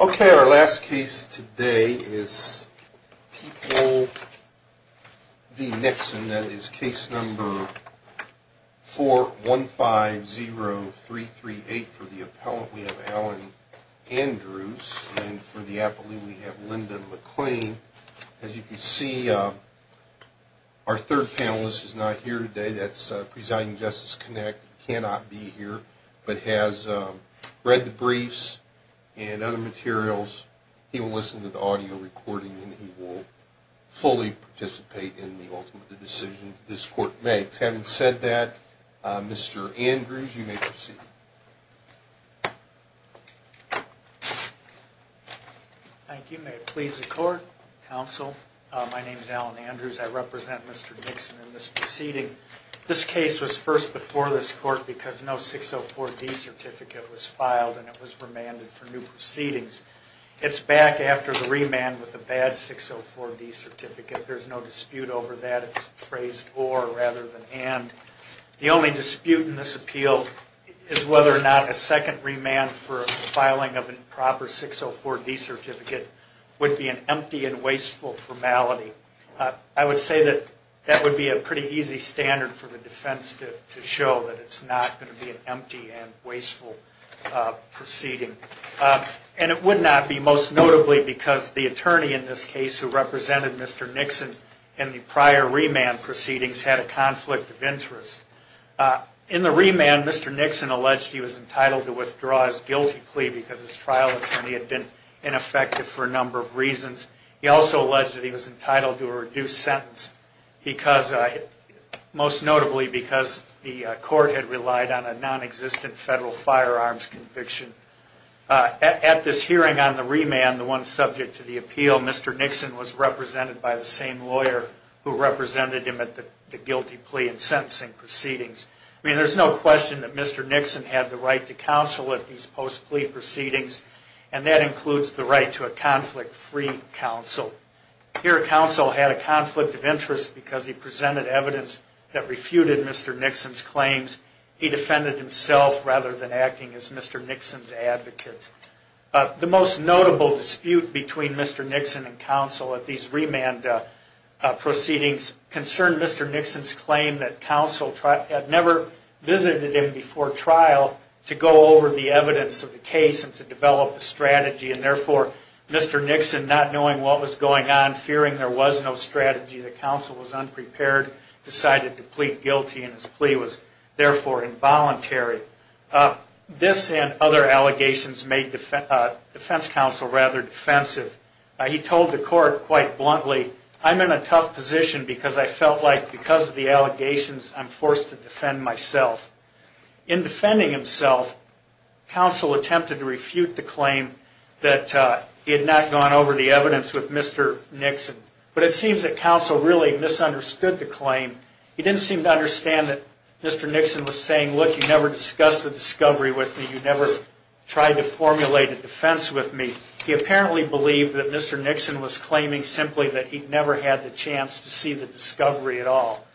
Okay, our last case today is People v. Nixon. That is case number 4150338. For the appellant, we have Alan Andrews. And for the appellee, we have Linda McLean. As you can see, our third panelist is not here today. That is Presiding Justice Connick. He cannot be here, but has read the briefs and other materials. He will listen to the audio recording and he will fully participate in the ultimate decisions this court makes. Having said that, Mr. Andrews, you may proceed. Thank you. May it please the court, counsel, my name is Alan Andrews. I represent Mr. Nixon in this proceeding. This case was first before this court because no 604D certificate was filed and it was remanded for new proceedings. It is back after the remand with a bad 604D certificate. There is no dispute over that. It is phrased or rather than and. The only dispute in this appeal is whether or not a second remand for filing of a proper 604D certificate would be an empty and wasteful formality. I would say that that would be a pretty easy standard for the defense to show that it is not going to be an empty and wasteful proceeding. It would not be, most notably, because the attorney in this case who represented Mr. Nixon in the prior remand proceedings had a conflict of interest. In the remand, Mr. Nixon alleged he was entitled to withdraw his guilty plea because his trial attorney had been ineffective for a number of reasons. He also alleged that he was entitled to a reduced sentence, most notably because the court had relied on a non-existent federal firearms conviction. At this hearing on the remand, the one subject to the appeal, Mr. Nixon was represented by the same lawyer who represented him at the guilty plea and sentencing proceedings. There is no question that Mr. Nixon had the right to counsel at these post-plea proceedings and that includes the right to a conflict-free counsel. Here, counsel had a conflict of interest because he presented evidence that refuted Mr. Nixon's claims. He defended himself rather than acting as Mr. Nixon's advocate. The most notable dispute between Mr. Nixon and counsel at these remand proceedings concerned Mr. Nixon's claim that counsel had never visited him before trial to go over the evidence of the case and to develop a strategy. Therefore, Mr. Nixon, not knowing what was going on, fearing there was no strategy, the counsel was unprepared, decided to plead guilty and his plea was therefore involuntary. This and other allegations made defense counsel rather defensive. He told the court quite bluntly, I'm in a tough position because I felt like because of the allegations I'm forced to defend myself. In defending himself, counsel attempted to refute the claim that he had not gone over the evidence with Mr. Nixon, but it seems that counsel really misunderstood the claim. He didn't seem to understand that Mr. Nixon was saying, look, you never discussed the discovery with me, you never tried to formulate a defense with me. He apparently believed that Mr. Nixon was claiming simply that he never had the chance to see the discovery at all.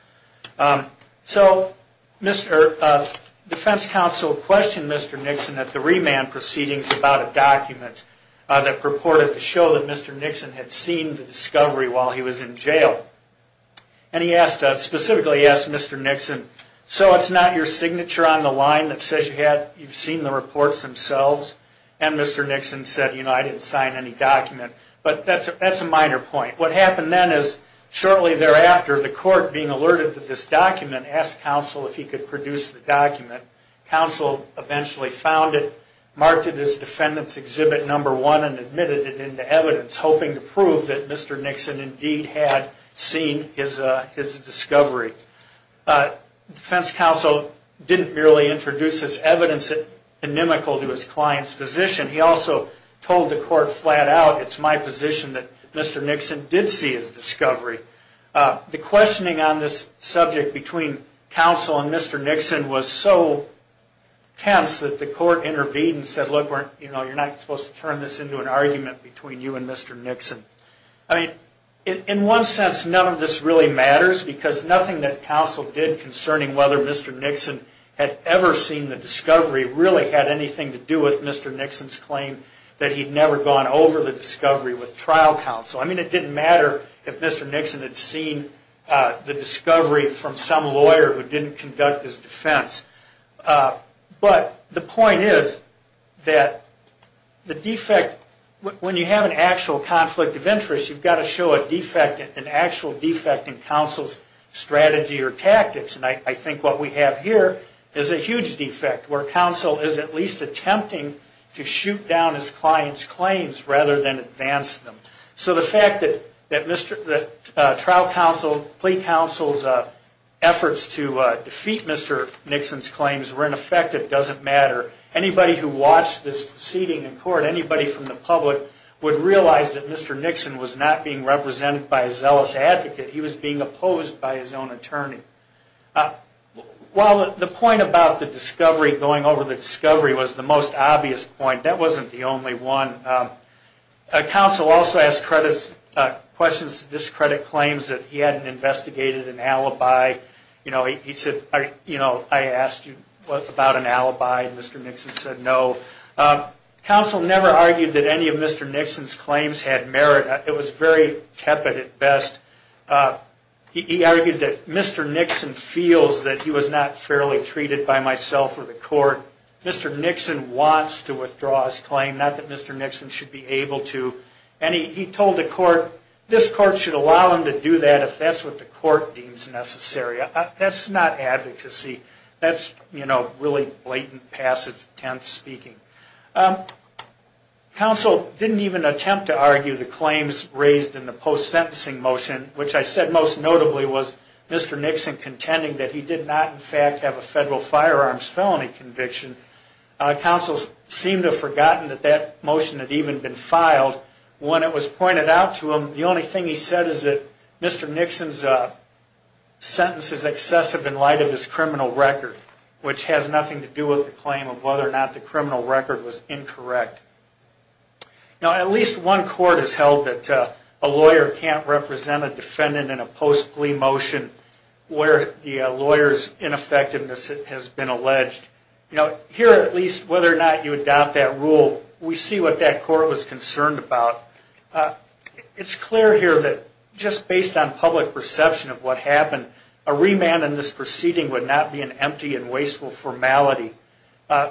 So defense counsel questioned Mr. Nixon at the remand proceedings about a document that purported to show that Mr. Nixon had seen the discovery while he was in jail. And he specifically asked Mr. Nixon, so it's not your signature on the line that says you've seen the reports themselves? And Mr. Nixon said, you know, I didn't sign any document. But that's a minor point. What happened then is shortly thereafter, the court, being alerted that this document, asked counsel if he could produce the document. Counsel eventually found it, marked it as Defendant's Exhibit No. 1, and admitted it into evidence, hoping to prove that Mr. Nixon indeed had seen his discovery. Defense counsel didn't merely introduce this evidence anemical to his client's position. He also told the court flat out, it's my position that Mr. Nixon did see his discovery. The questioning on this subject between counsel and Mr. Nixon was so tense that the court intervened and said, look, you're not supposed to turn this into an argument between you and Mr. Nixon. I mean, in one sense, none of this really matters, because nothing that counsel did concerning whether Mr. Nixon had ever seen the discovery really had anything to do with Mr. Nixon's claim that he'd never gone over the discovery with trial counsel. I mean, it didn't matter if Mr. Nixon had seen the discovery from some lawyer who didn't conduct his defense. But the point is that the defect, when you have an actual conflict of interest, you've got to show a defect, an actual defect in counsel's strategy or tactics. And I think what we have here is a huge defect, where counsel is at least attempting to shoot down his client's claims rather than advance them. So the fact that trial counsel, plea counsel's efforts to defeat Mr. Nixon's claims were ineffective doesn't matter. Anybody who watched this proceeding in court, anybody from the public, would realize that Mr. Nixon was not being represented by a zealous advocate. He was being opposed by his own attorney. Well, the point about the discovery, going over the discovery, was the most obvious point. That wasn't the only one. Counsel also asked questions to discredit claims that he hadn't investigated an alibi. You know, he said, I asked you about an alibi and Mr. Nixon said no. Counsel never argued that any of Mr. Nixon's claims had merit. It was very tepid at best. He argued that Mr. Nixon feels that he was not fairly treated by myself or the court. Mr. Nixon wants to withdraw his claim, not that Mr. Nixon should be able to. And he told the court, this court should allow him to do that if that's what the court deems necessary. That's not advocacy. That's, you know, really blatant, passive, tense speaking. Counsel didn't even attempt to argue the claims raised in the post-sentencing motion, which I said most notably was Mr. Nixon contending that he did not, in fact, have a federal firearms felony conviction. Counsel seemed to have forgotten that that motion had even been filed. When it was pointed out to him, the only thing he said is that Mr. Nixon's sentence is excessive in light of his criminal record, which has nothing to do with the claim of whether or not the criminal record was incorrect. Now, at least one court has held that a lawyer can't represent a defendant in a post-plea motion where the lawyer's ineffectiveness has been alleged. You know, here at least, whether or not you adopt that rule, we see what that court was concerned about. It's clear here that just based on public perception of what happened, a remand in this proceeding would not be an empty and wasteful formality.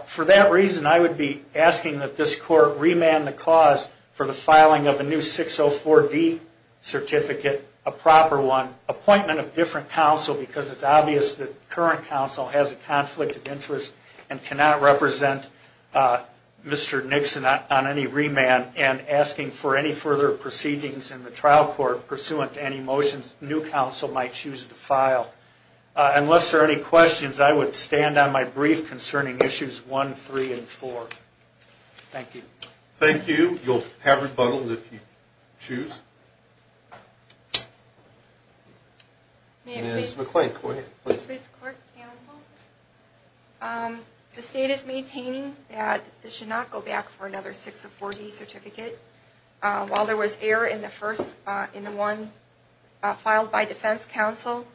For that reason, I would be asking that this court remand the cause for the filing of a new 604D certificate, a proper one, appointment of different counsel, because it's obvious that current counsel has a conflict of interest and cannot represent Mr. Nixon on any remand, and asking for a remand. I would ask for any further proceedings in the trial court pursuant to any motions new counsel might choose to file. Unless there are any questions, I would stand on my brief concerning issues 1, 3, and 4. Thank you. Thank you. You'll have rebuttal if you choose. Ms. McClain, go ahead, please. Thank you, Mr. Chief Justice, clerk, counsel. The state is maintaining that this should not go back for another 604D certificate. While there was error in the one filed by defense counsel,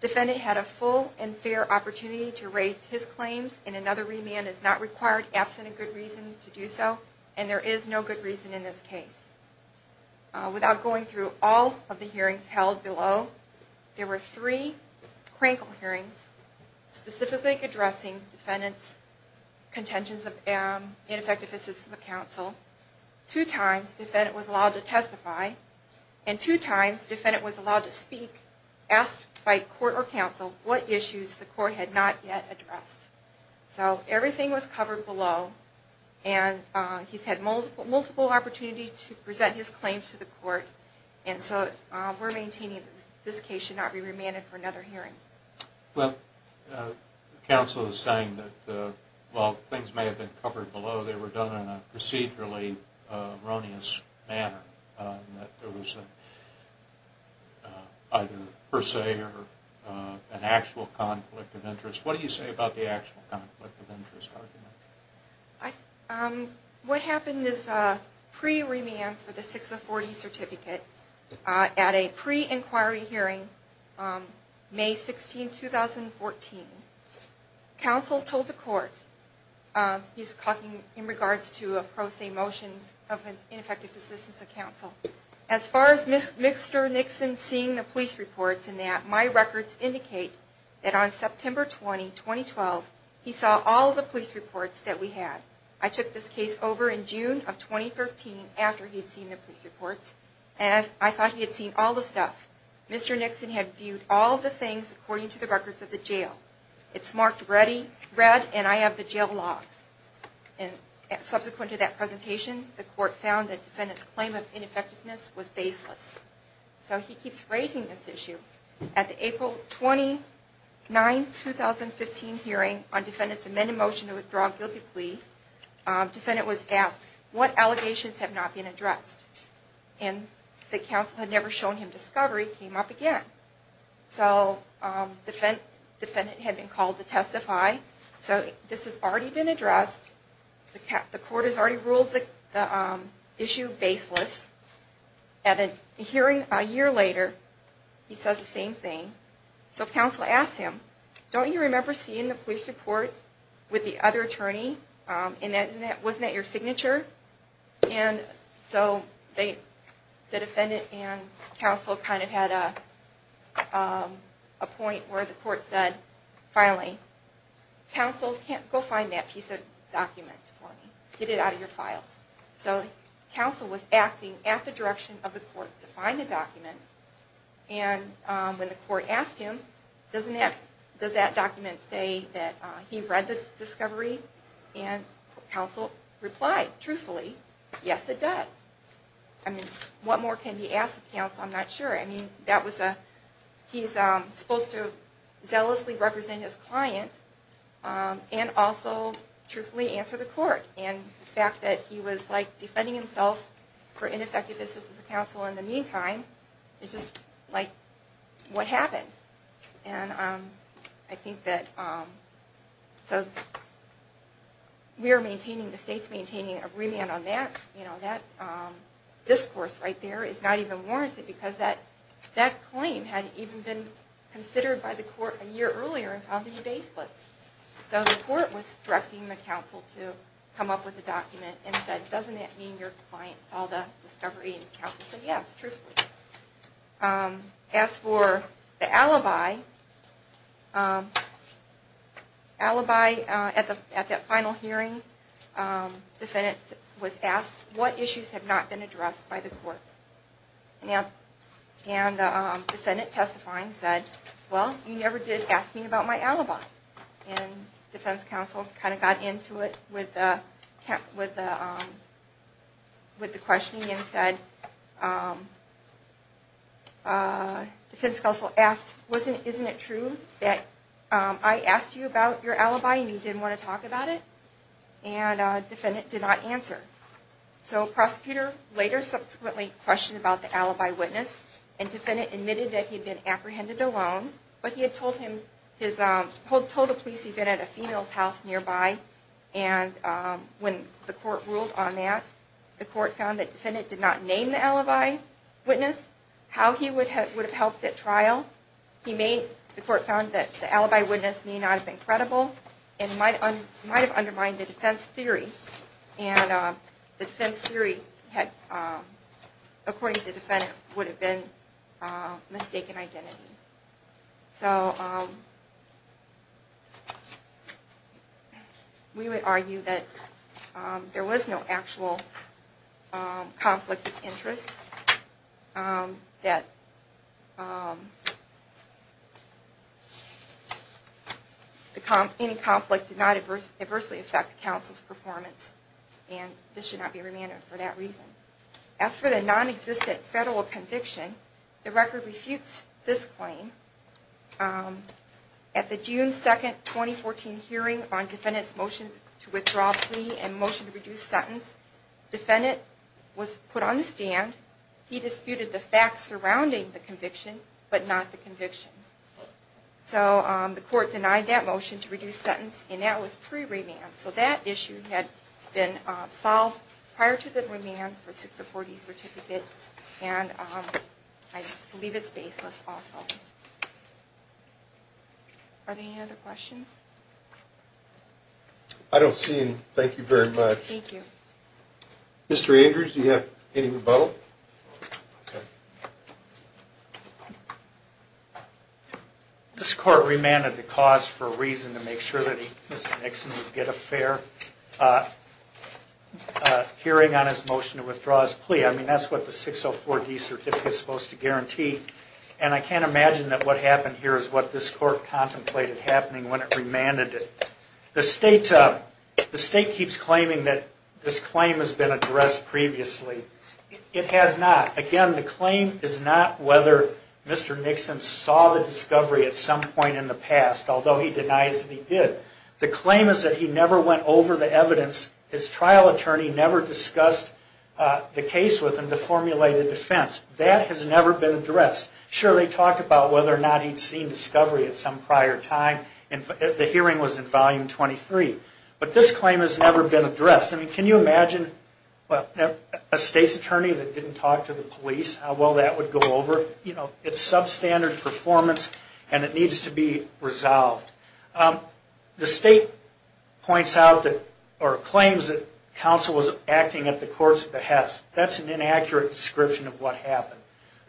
defendant had a full and fair opportunity to raise his claims, and another remand is not required, absent a good reason to do so, and there is no good reason in this case. Without going through all of the hearings held below, there were three crankle hearings specifically addressing defendant's contentions of ineffective assistance to counsel. Two times defendant was allowed to testify, and two times defendant was allowed to speak, asked by court or counsel what issues the court had not yet addressed. So everything was covered below, and he's had multiple opportunities to present his claims to the court, and so we're maintaining that this case should not be remanded for another hearing. Well, counsel is saying that while things may have been covered below, they were done in a procedurally erroneous manner, that there was either per se or an actual conflict of interest. What do you say about the actual conflict of interest argument? What happened is, pre-remand for the 604D certificate, at a pre-inquiry hearing, May 16, 2014, counsel told the court, he's talking in regards to a pro se motion of ineffective assistance to counsel, as far as Mr. Nixon seeing the police reports in that, my records indicate that on September 20, 2012, he saw all of the police reports, all of the police reports, and he saw all of the police reports. I took this case over in June of 2013, after he had seen the police reports, and I thought he had seen all the stuff. Mr. Nixon had viewed all of the things according to the records of the jail. It's marked red, and I have the jail logs. Subsequent to that presentation, the court found that the defendant's claim of ineffectiveness was baseless. So he keeps raising this issue. At the April 29, 2015 hearing on defendant's amended motion to withdraw a guilty plea, the defendant was asked, what allegations have not been addressed? And that counsel had never shown him discovery came up again. So the defendant had been called to testify. So this has already been addressed. The court has already ruled the issue baseless. At a hearing a year later, he says the same thing. So counsel asks him, don't you remember seeing the police report with the other attorney, and wasn't that your signature? And so the defendant and counsel kind of had a point where the court said, finally, counsel, go find that piece of document for me. Get it out of your files. So counsel was acting at the direction of the court to find the document, and when the court asked him, does that document say that he read the discovery? And counsel replied, truthfully, yes it does. I mean, what more can he ask of counsel? I'm not sure. I mean, that was a, he's supposed to zealously represent his client, and also truthfully answer the court. And the fact that he was, like, defending himself for ineffective assistance to counsel in the meantime is just, like, what happened? And I think that, so we are maintaining, the state's maintaining a remand on that. You know, that discourse right there is not even warranted because that claim had even been considered by the court a year earlier and found to be baseless. So the court was directing the counsel to come up with a document and said, doesn't that mean your client saw the discovery and counsel said yes, truthfully. As for the alibi, alibi at that final hearing, defendant was asked what issues have not been addressed by the court. And the defendant testifying said, well, you never did ask me about my alibi. And defense counsel kind of got into it with the questioning and said, defense counsel asked, isn't it true that I asked you about your alibi and you didn't want to talk about it? And defendant did not answer. So prosecutor later subsequently questioned about the alibi witness and defendant admitted that he had been apprehended alone, but he had told him, told the police he had been at a female's house nearby. And when the court ruled on that, the court found that defendant did not name the alibi witness, how he would have helped at trial, he made, the court found that the alibi witness may not have been credible and might have undermined the defense theory. And the defense theory had, according to the defendant, would have been mistaken identity. So we would argue that there was no actual conflict of interest, that any conflict did not adversely affect the counsel's performance and this should not be remanded for that reason. As for the non-existent federal conviction, the record refutes this claim. At the June 2, 2014 hearing on defendant's motion to withdraw plea and motion to reduce sentence, defendant was put on the stand, he disputed the facts surrounding the conviction, but not the conviction. So the court denied that motion to reduce sentence and that was pre-remand. So that issue had been solved prior to the remand for 640 certificate and I believe it's baseless also. Are there any other questions? I don't see any, thank you very much. Thank you. Mr. Andrews, do you have any rebuttal? This court remanded the cause for a reason to make sure that Mr. Nixon would get a fair hearing on his motion to withdraw his plea. I mean, that's what the 604D certificate is supposed to guarantee and I can't imagine that what happened here is what this court contemplated happening when it remanded it. The state keeps claiming that this claim has been addressed previously. It has not. Again, the claim is not whether Mr. Nixon saw the discovery at some point in the past, although he denies that he did. The claim is that he never went over the evidence, his trial attorney never discussed the case with him to formulate a defense. That has never been addressed. Sure, they talked about whether or not he'd seen discovery at some prior time and the hearing was in volume 23, but this claim has never been addressed. I mean, can you imagine a state's attorney that didn't talk to the police, how well that would go over? You know, it's substandard performance and it needs to be resolved. The state points out or claims that counsel was acting at the court's behest. That's an inaccurate description of what happened.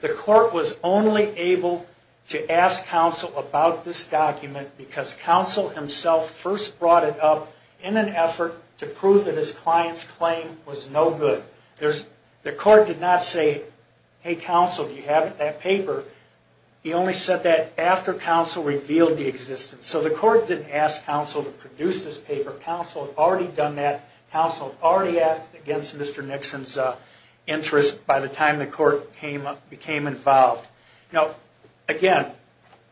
The court was only able to ask counsel about this document because counsel himself first brought it up in an effort to prove that his client's claim was no good. The court did not say, hey, counsel, do you have that paper? He only said that after counsel revealed the existence. So the court didn't ask counsel to produce this paper. Counsel had already done that. Counsel had already acted against Mr. Nixon's interest by the time the court became involved. Now, again,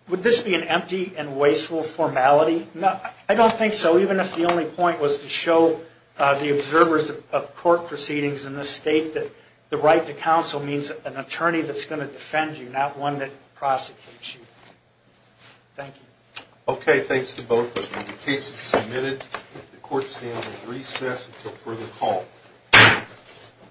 would this be an empty and wasteful formality? No, I don't think so. Even if the only point was to show the observers of court proceedings in this state that the right to counsel means an attorney that's going to defend you, not one that prosecutes you. Thank you. Okay, thanks to both of you. The case is submitted. The court stand will recess until further call.